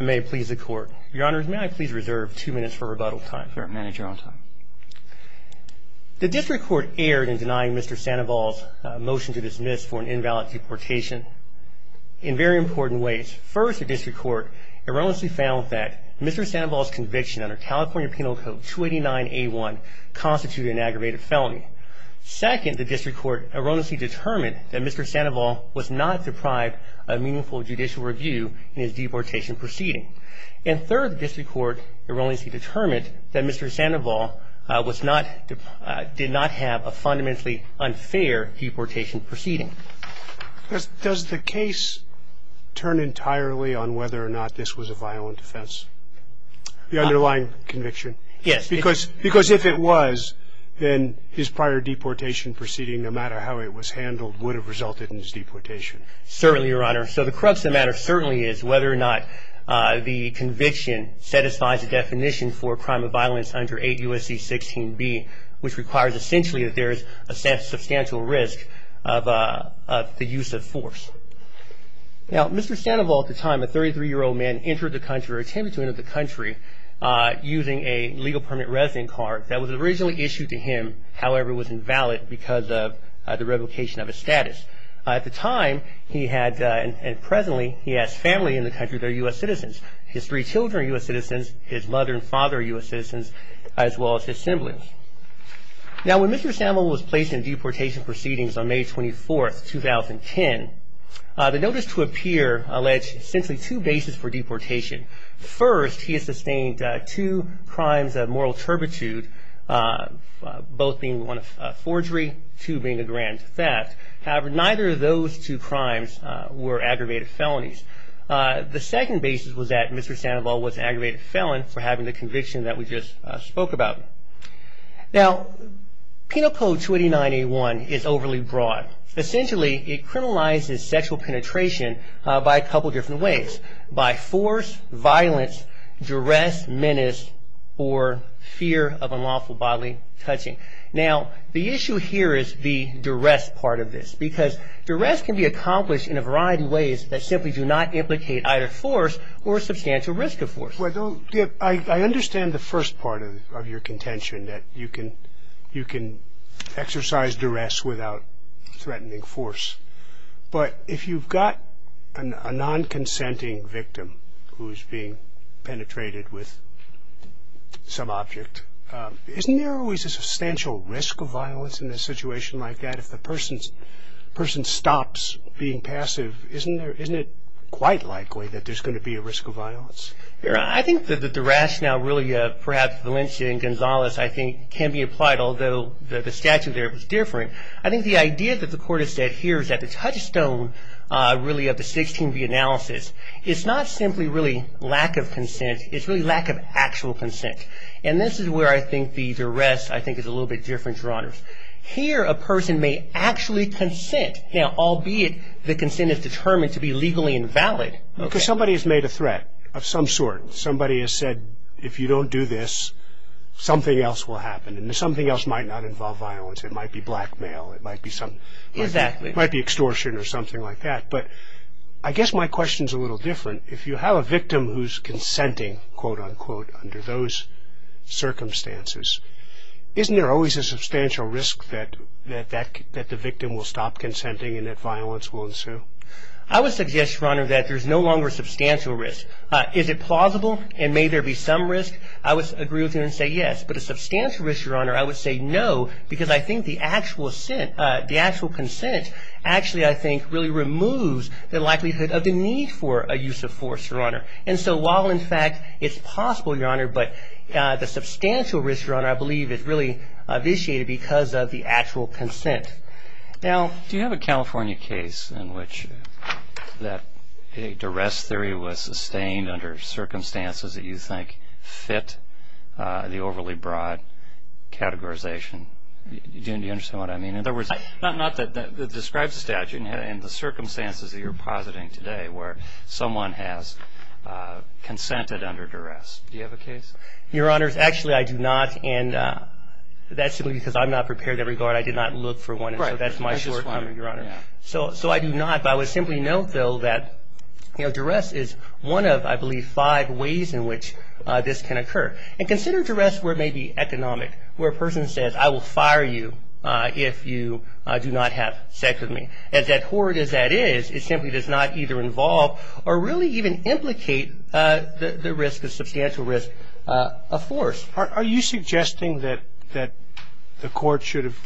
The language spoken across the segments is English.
may please the court your honors may I please reserve two minutes for rebuttal time for a manager on time the district court erred in denying mr. Sandoval's motion to dismiss for an invalid deportation in very important ways first the district court erroneously found that mr. Sandoval's conviction under California Penal Code 289 a1 constituted an aggravated felony second the district court erroneously determined that mr. Sandoval was not deprived a meaningful judicial review in his deportation proceeding and third district court erroneously determined that mr. Sandoval was not did not have a fundamentally unfair deportation proceeding does the case turn entirely on whether or not this was a violent offense the underlying conviction yes because because if it was then his prior deportation proceeding no matter how it was handled would have resulted in his deportation certainly your honor so the crux of the matter certainly is whether or not the conviction satisfies the definition for a crime of violence under 8 U.S.C. 16b which requires essentially that there is a substantial risk of the use of force now mr. Sandoval at the time a 33 year old man entered the country or attempted to enter the country using a legal permanent resident card that was originally issued to him however was at the time he had and presently he has family in the country they're U.S. citizens his three children U.S. citizens his mother and father U.S. citizens as well as his siblings now when mr. Sandoval was placed in deportation proceedings on May 24th 2010 the notice to appear alleged essentially two bases for deportation first he has sustained two crimes of grand theft however neither of those two crimes were aggravated felonies the second basis was that mr. Sandoval was aggravated felon for having the conviction that we just spoke about now penal code 289 a1 is overly broad essentially it criminalizes sexual penetration by a couple different ways by force violence duress menace or fear of unlawful bodily touching now the duress part of this because duress can be accomplished in a variety ways that simply do not implicate either force or substantial risk of force I understand the first part of your contention that you can you can exercise duress without threatening force but if you've got a non-consenting victim who is being penetrated with some object isn't there always a substantial risk of violence in a situation like that if the person's person stops being passive isn't there isn't it quite likely that there's going to be a risk of violence I think that the rationale really perhaps Valencia and Gonzales I think can be applied although the statute there was different I think the idea that the court has said here is that the touchstone really of the 16b analysis it's not simply really lack of consent it's really lack of actual consent and this is where I think the duress I think it's a little bit different here a person may actually consent now albeit the consent is determined to be legally invalid somebody has made a threat of some sort somebody has said if you don't do this something else will happen and something else might not involve violence it might be blackmail it might be some might be extortion or something like that but I guess my question is a little different if you have a victim who's consenting quote-unquote under those circumstances isn't there always a substantial risk that the victim will stop consenting and that violence will ensue I would suggest your honor that there's no longer substantial risk is it plausible and may there be some risk I was agree with you and say yes but a substantial risk your honor I would say no because I think the actual consent actually I think really removes the likelihood of the need for a use of force your honor and so while in fact it's possible your honor but the substantial risk your honor I believe is really initiated because of the actual consent now do you have a California case in which that a duress theory was sustained under circumstances that you think fit the overly broad categorization do you understand what I mean in other words not that that describes the statute and the circumstances that you're positing today where someone has consented under duress do you have a case your honors actually I do not and that's simply because I'm not prepared to regard I did not look for one right that's my short your honor so so I do not I would simply note though that you know duress is one of I believe five ways in which this can occur and consider duress where it may be economic where a person says I will fire you if you do not have sex with me as that horrid as that is it simply does not either involve or really even implicate the risk of substantial risk of force are you suggesting that that the court should have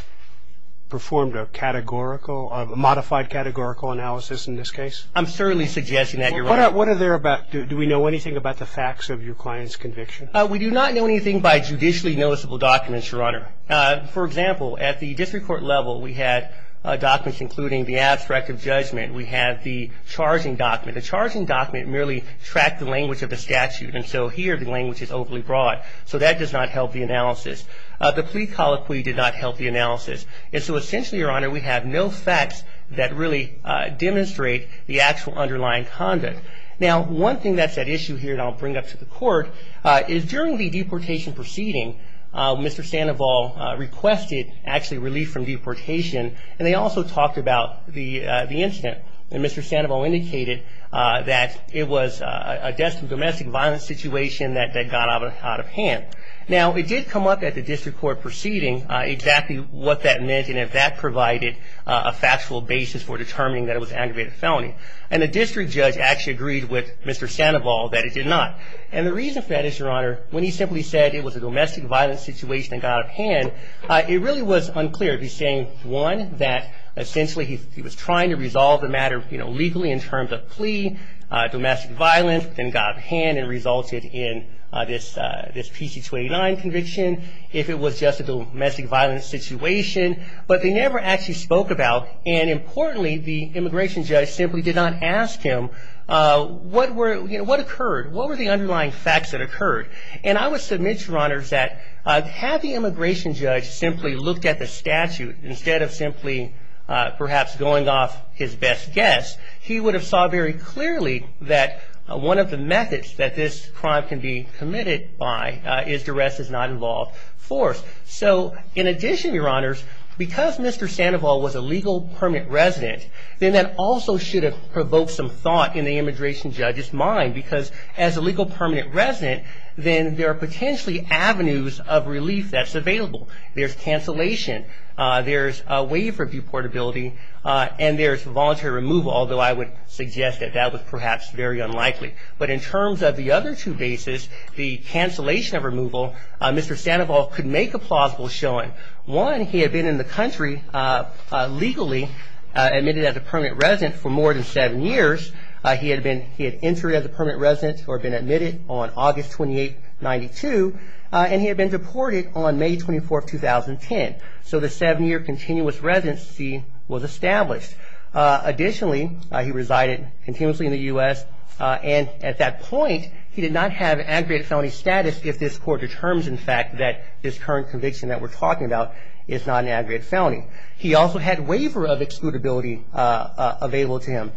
performed a categorical modified categorical analysis in this case I'm certainly suggesting that you're what are there about do we know anything about the facts of your client's conviction we do not know anything by judicially noticeable documents your honor for example at the abstract of judgment we have the charging document the charging document merely track the language of the statute and so here the language is overly broad so that does not help the analysis the plea colloquy did not help the analysis and so essentially your honor we have no facts that really demonstrate the actual underlying conduct now one thing that's at issue here and I'll bring up to the court is during the deportation proceeding mr. Sandoval requested actually relief from deportation and they also talked about the incident and mr. Sandoval indicated that it was a destined domestic violence situation that they got out of hand now it did come up at the district court proceeding exactly what that meant and if that provided a factual basis for determining that it was aggravated felony and the district judge actually agreed with mr. Sandoval that it did not and the reason for that is your honor when he simply said it was a domestic violence situation and got a hand it really was unclear if he's saying one that essentially he was trying to resolve the matter you know legally in terms of plea domestic violence then got a hand and resulted in this this PC 29 conviction if it was just a domestic violence situation but they never actually spoke about and importantly the immigration judge simply did not ask him what were what occurred what were the underlying facts that occurred and I would submit your honors that have the immigration judge simply looked at the statute instead of simply perhaps going off his best guess he would have saw very clearly that one of the methods that this crime can be committed by is to rest is not involved force so in addition your honors because mr. Sandoval was a legal permanent resident then that also should have provoked some thought in the immigration judge's mind because as a legal permanent resident then there are potentially avenues of removal that are available there's cancellation there's a way for view portability and there's voluntary removal although I would suggest that that was perhaps very unlikely but in terms of the other two bases the cancellation of removal mr. Sandoval could make a plausible showing one he had been in the country legally admitted as a permanent resident for more than seven years he had been he had entered as a permanent resident or been admitted on August 28 92 and he had been deported on May 24 2010 so the seven year continuous residency was established additionally he resided continuously in the US and at that point he did not have aggregate felony status if this court determines in fact that this current conviction that we're talking about is not an aggregate felony he also had waiver of excludability available to him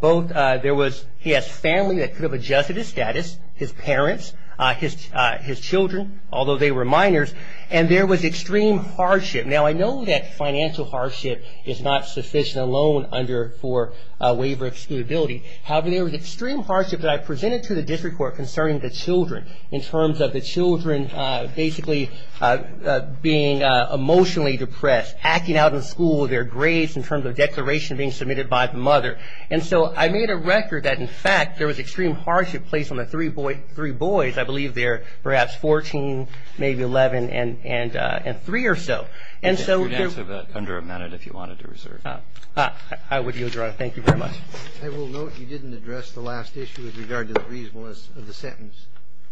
both there was he has family that could have adjusted his status his parents his his children although they were minors and there was extreme hardship now I know that financial hardship is not sufficient alone under for waiver excludability however there was extreme hardship that I presented to the district court concerning the children in terms of the children basically being emotionally depressed acting out in school their grades in terms of and so I made a record that in fact there was extreme hardship placed on the three boy three boys I believe they're perhaps 14 maybe 11 and and and three or so and so under a minute if you wanted to reserve I would use your honor thank you very much I will note you didn't address the last issue with regard to the reasonableness of the sentence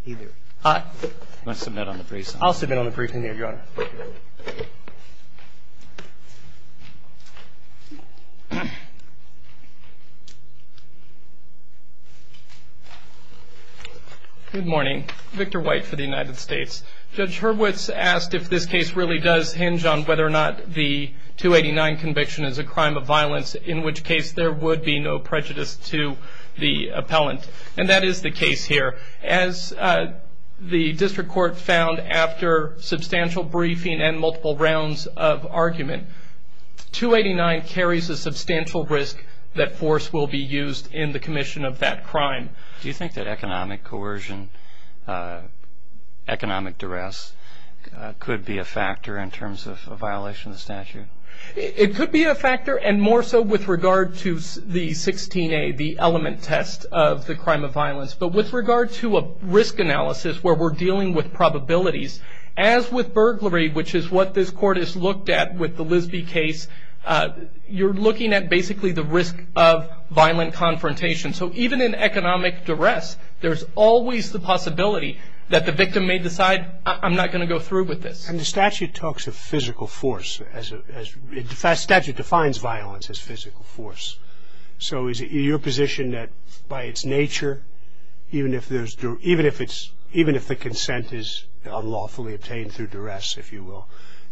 either I must have met on the face I'll morning Victor white for the United States judge Hurwitz asked if this case really does hinge on whether or not the 289 conviction is a crime of violence in which case there would be no prejudice to the appellant and that is the case here as the district court found after substantial briefing and multiple rounds of argument 289 carries a substantial risk that force will be used in the commission of that crime do you think that economic coercion economic duress could be a factor in terms of a violation statute it could be a factor and more so with regard to the 16 a the element test of the crime of violence but with regard to a risk analysis where we're dealing with probabilities as with burglary which is what this court is looked at with the lisby case you're looking at basically the risk of violent confrontation so even in economic duress there's always the possibility that the victim may decide I'm not going to go through with this and the statute talks of physical force as a fast statute defines violence as physical force so is it your position that by its nature even if there's even if it's even if the consent is unlawfully obtained through duress if you will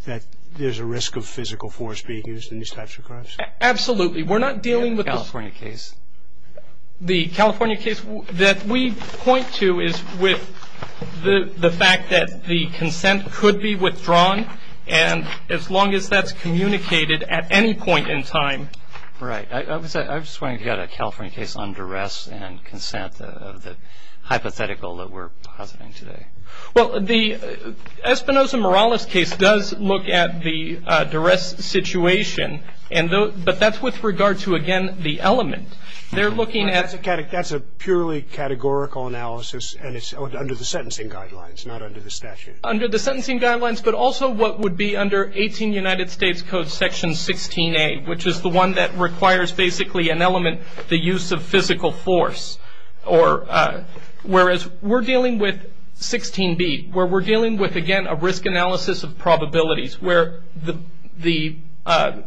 that there's a risk of physical force being used in these types of crimes absolutely we're not dealing with California case the California case that we point to is with the the fact that the consent could be withdrawn and as long as that's communicated at any point in time right I was I was trying to get a California case under arrest and consent of the hypothetical that we're positing today well the Espinosa Morales case does look at the duress situation and though but that's with regard to again the element they're looking at the catech that's a purely categorical analysis and it's under the sentencing guidelines not under the statute under the sentencing guidelines but also what would be under 18 United States Code section 16 a which is the one that requires basically an element the use of physical force or whereas we're dealing with 16b where we're dealing with again a risk analysis of probabilities where the the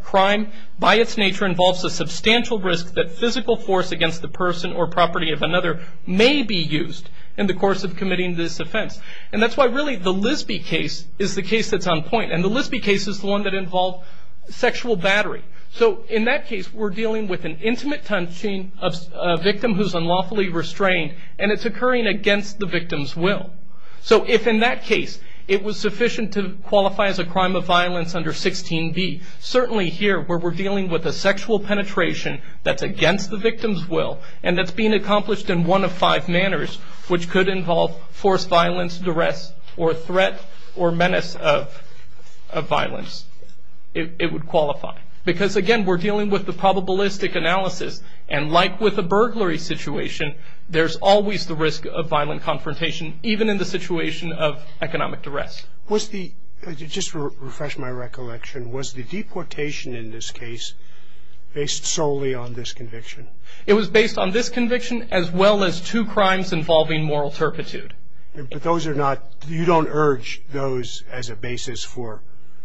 crime by its nature involves a substantial risk that physical force against the person or property of another may be used in the course of committing this offense and that's why really the Lisby case is the case that's on point and the Lisby case is the one that involved sexual battery so in that case we're dealing with an intimate touching of a victim who's unlawfully restrained and it's occurring against the victim's will so if in that case it was sufficient to qualify as a crime of violence under 16b certainly here where we're dealing with a sexual penetration that's against the victim's will and that's being accomplished in one of five manners which could involve forced violence duress or threat or menace of violence it would qualify because again we're dealing with the probabilistic analysis and like with a burglary situation there's always the risk of violent confrontation even in the situation of economic duress was the just refresh my recollection was the deportation in this case based solely on this conviction it was based on this conviction as well as two crimes involving moral turpitude but those are not you don't urge those as a basis for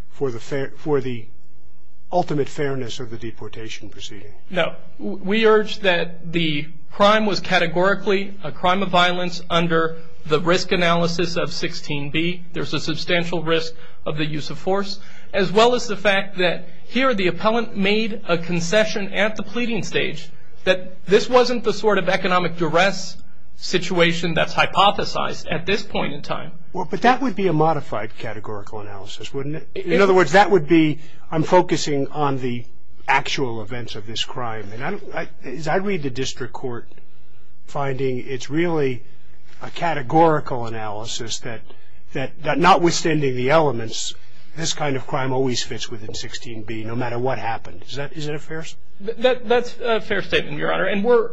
for the fair for the ultimate fairness of the deportation proceeding no we urge that the crime was categorically a crime of violence under the risk analysis of 16b there's a substantial risk of the use of force as well as the fact that here the appellant made a concession at the pleading stage that this wasn't the sort of economic duress situation that's hypothesized at this point in time or but that would be a modified categorical analysis wouldn't it in other words that would be I'm focusing on the actual events of this crime and I don't like is I read the district court finding it's really a categorical analysis that that that not withstanding the elements this kind of crime always fits within 16b no matter what happened is that is it a fair that that's a fair statement your honor and we're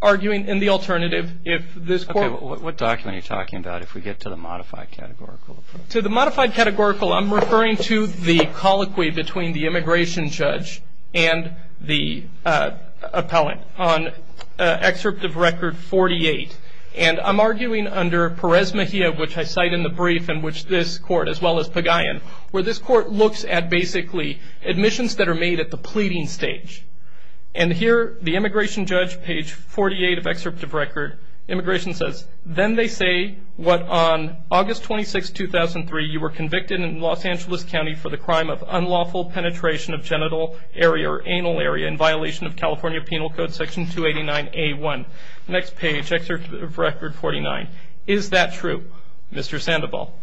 arguing in the alternative if this what document you're talking about if we get to the modified categorical to the modified categorical I'm referring to the colloquy between the immigration judge and the appellant on excerpt of record 48 and I'm arguing under Perez Mejia which I cite in the brief in which this court as well as Pagayan where this court looks at basically admissions that are made at the pleading stage and here the immigration judge page 48 of excerpt of record immigration says then they say what on August 26 2003 you were convicted in Los Angeles County for the crime of unlawful penetration of genital area or anal area in violation of California Penal Code section 289 a1 next page record 49 is that true Mr. Sandoval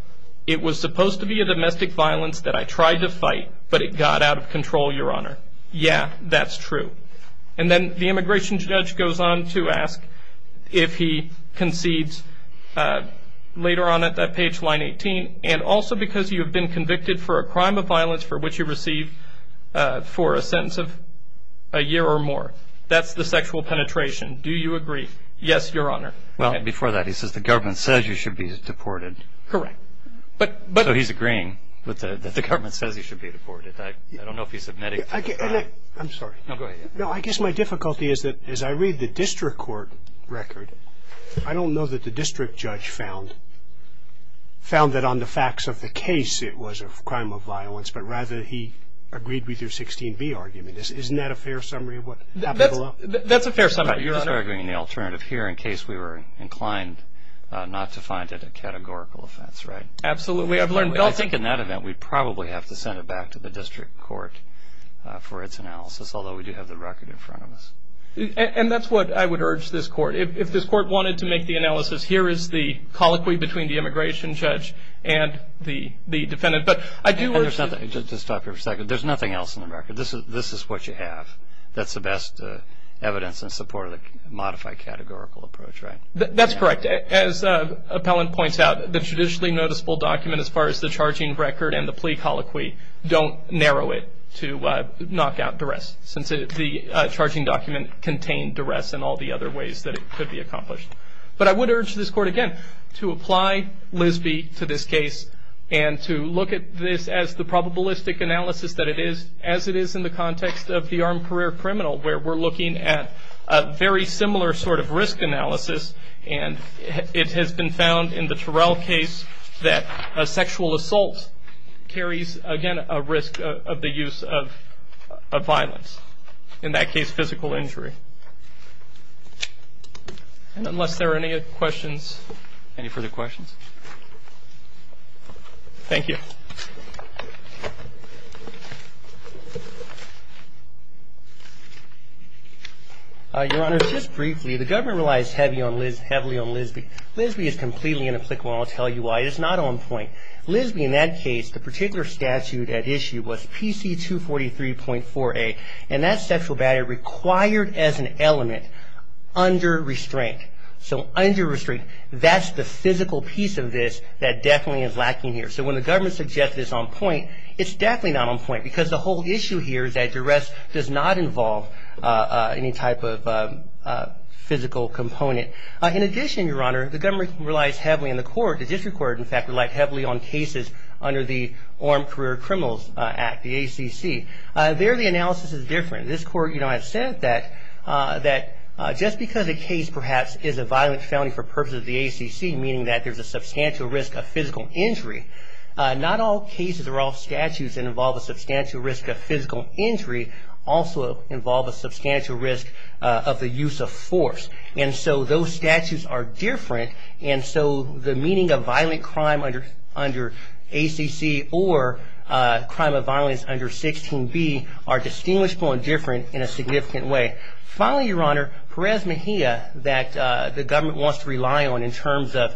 it was supposed to be a domestic violence that I tried to fight but it got out of control your honor yeah that's true and then the immigration judge goes on to ask if he concedes later on at that page line 18 and also because you've been convicted for a crime of violence for which you receive for a sense of a year or more that's the sexual penetration do you agree yes your honor well before that he says the government says you should be deported correct but but he's agreeing with the government says he should be deported I don't know if he submitted I'm sorry no I guess my difficulty is that as I read the district court record I don't know that the district judge found found that on the facts of the case it was a crime of violence but rather he agreed with your 16b argument this isn't that a fair summary of what that's a fair summary you're arguing the alternative here in declined not to find it a categorical offense right absolutely I've learned don't think in that event we probably have to send it back to the district court for its analysis although we do have the record in front of us and that's what I would urge this court if this court wanted to make the analysis here is the colloquy between the immigration judge and the the defendant but I do understand that there's nothing else in the record this is this is what you have that's the best evidence in support of the modified categorical approach right that's correct as appellant points out the traditionally noticeable document as far as the charging record and the plea colloquy don't narrow it to knock out duress since it's the charging document contained duress and all the other ways that it could be accomplished but I would urge this court again to apply Liz B to this case and to look at this as the probabilistic analysis that it is as it is in the context of the armed career criminal where we're looking at a very similar sort of risk analysis and it has been found in the Terrell case that a sexual assault carries again a risk of the use of violence in that case physical injury and unless there are any questions any further questions thank you your honor just briefly the government relies heavy on Liz heavily on Liz B Liz B is completely inapplicable I'll tell you why it's not on point Liz B in that case the particular statute at issue was PC 243.4 a and that sexual battery required as an element under restraint so under restraint that's the physical piece of this that definitely is lacking here so when the government suggests this on point it's definitely not on point because the whole issue here is that duress does not involve any type of physical component in addition your honor the government relies heavily in the court the district court in fact relied heavily on cases under the Armed Career Criminals Act the ACC there the ACC has said that that just because the case perhaps is a violent felony for purposes of the ACC meaning that there's a substantial risk of physical injury not all cases are all statutes that involve a substantial risk of physical injury also involve a substantial risk of the use of force and so those statutes are different and so the meaning of violent crime under under ACC or crime of violence under 16b are distinguishable and different in a significant way finally your honor Perez Mejia that the government wants to rely on in terms of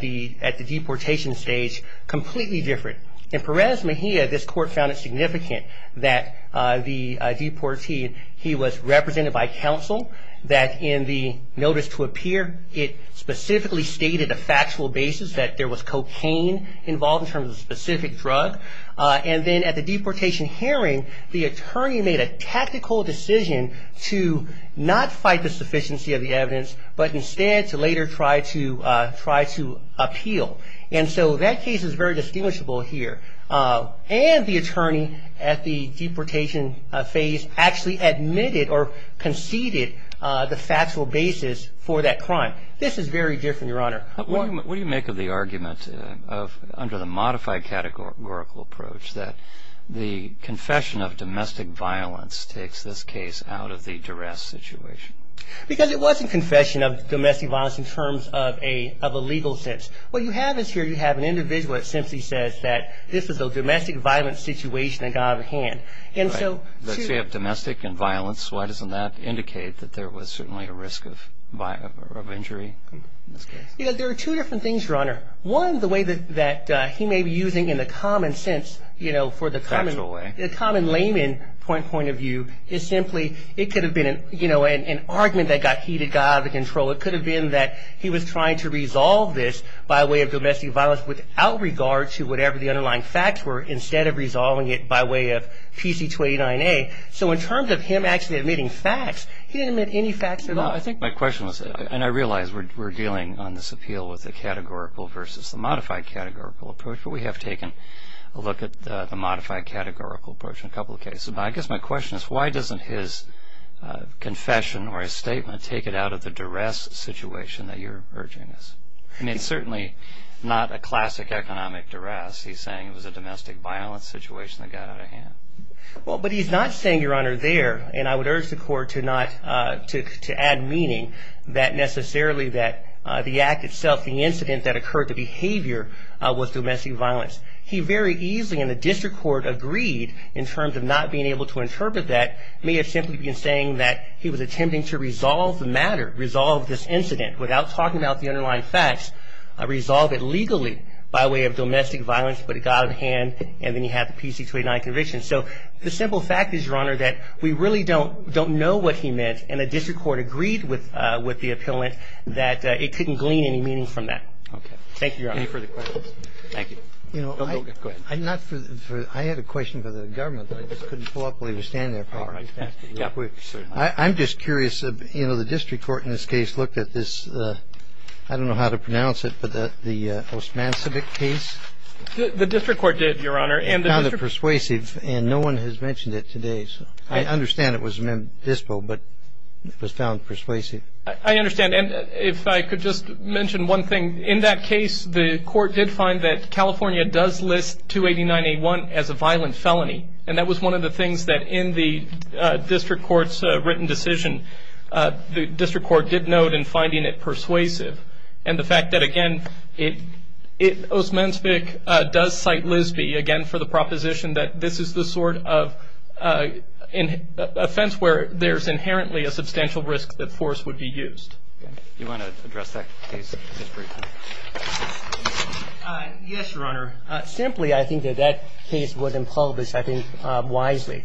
the at the deportation stage completely different in Perez Mejia this court found it significant that the deportee he was represented by counsel that in the notice to appear it specifically stated a factual basis that there was cocaine involved in terms of specific drug and then at the deportation hearing the attorney made a tactical decision to not fight the sufficiency of the evidence but instead to later try to try to appeal and so that case is very distinguishable here and the attorney at the deportation phase actually admitted or conceded the factual basis for that crime this is very different your honor what do you make of the argument of under the modified categorical approach that the confession of domestic violence takes this case out of the duress situation because it wasn't confession of domestic violence in terms of a of a legal sense what you have is here you have an individual it simply says that this is a domestic violence situation that got out of hand and so domestic and violence why doesn't that indicate that there was certainly a risk of injury there are two different things your honor one the way that he may be using in the common sense you know for the common layman point of view is simply it could have been you know an argument that got heated got out of control it could have been that he was trying to resolve this by way of domestic violence without regard to whatever the underlying facts were instead of resolving it by way of PC 29a so in terms of him actually admitting facts he didn't admit any facts at all I think my question was and I realize we're dealing on this appeal with the categorical versus the modified categorical approach but we have taken a look at the modified categorical approach in a couple of cases I guess my question is why doesn't his confession or a statement take it out of the duress situation that you're urging us and it's certainly not a classic economic duress he's saying it was a domestic violence situation that got out of hand well but he's not saying your honor there and I would urge the court to not to add meaning that necessarily that the act itself the incident that occurred the behavior was domestic violence he very easily in the district court agreed in terms of not being able to interpret that may have simply been saying that he was attempting to resolve the matter resolve this incident without talking about the underlying facts I resolve it legally by way of domestic violence but it got out of hand and then you have the DC 289 conviction so the simple fact is your honor that we really don't don't know what he meant and a district court agreed with with the appellant that it couldn't glean any meaning from that okay thank you I'm just curious of you know the district court in this case looked at this I don't know how to pronounce it but the the postman civic case the district court did your honor and now the persuasive and no one has mentioned it today so I understand it was a member dispo but it was found persuasive I understand and if I could just mention one thing in that case the court did find that California does list 289 a1 as a violent felony and that was one of the things that in the district courts written decision the district court did note in finding it persuasive and the fact that again it it was men speak does cite Lisby again for the proposition that this is the sort of in a fence where there's inherently a substantial risk that force would be used you want to address that case yes your honor simply I think that that case would impose I think wisely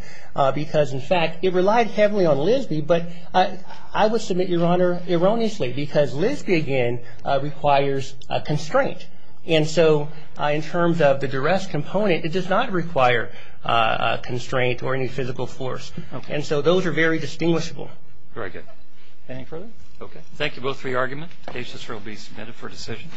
because in fact it relied heavily on Lisby but I would submit your honor erroneously because Lisby again requires a constraint and so in terms of the rest component it does not require a constraint or any physical force and so those are very distinguishable very good okay thank you both for your argument cases will be submitted for decision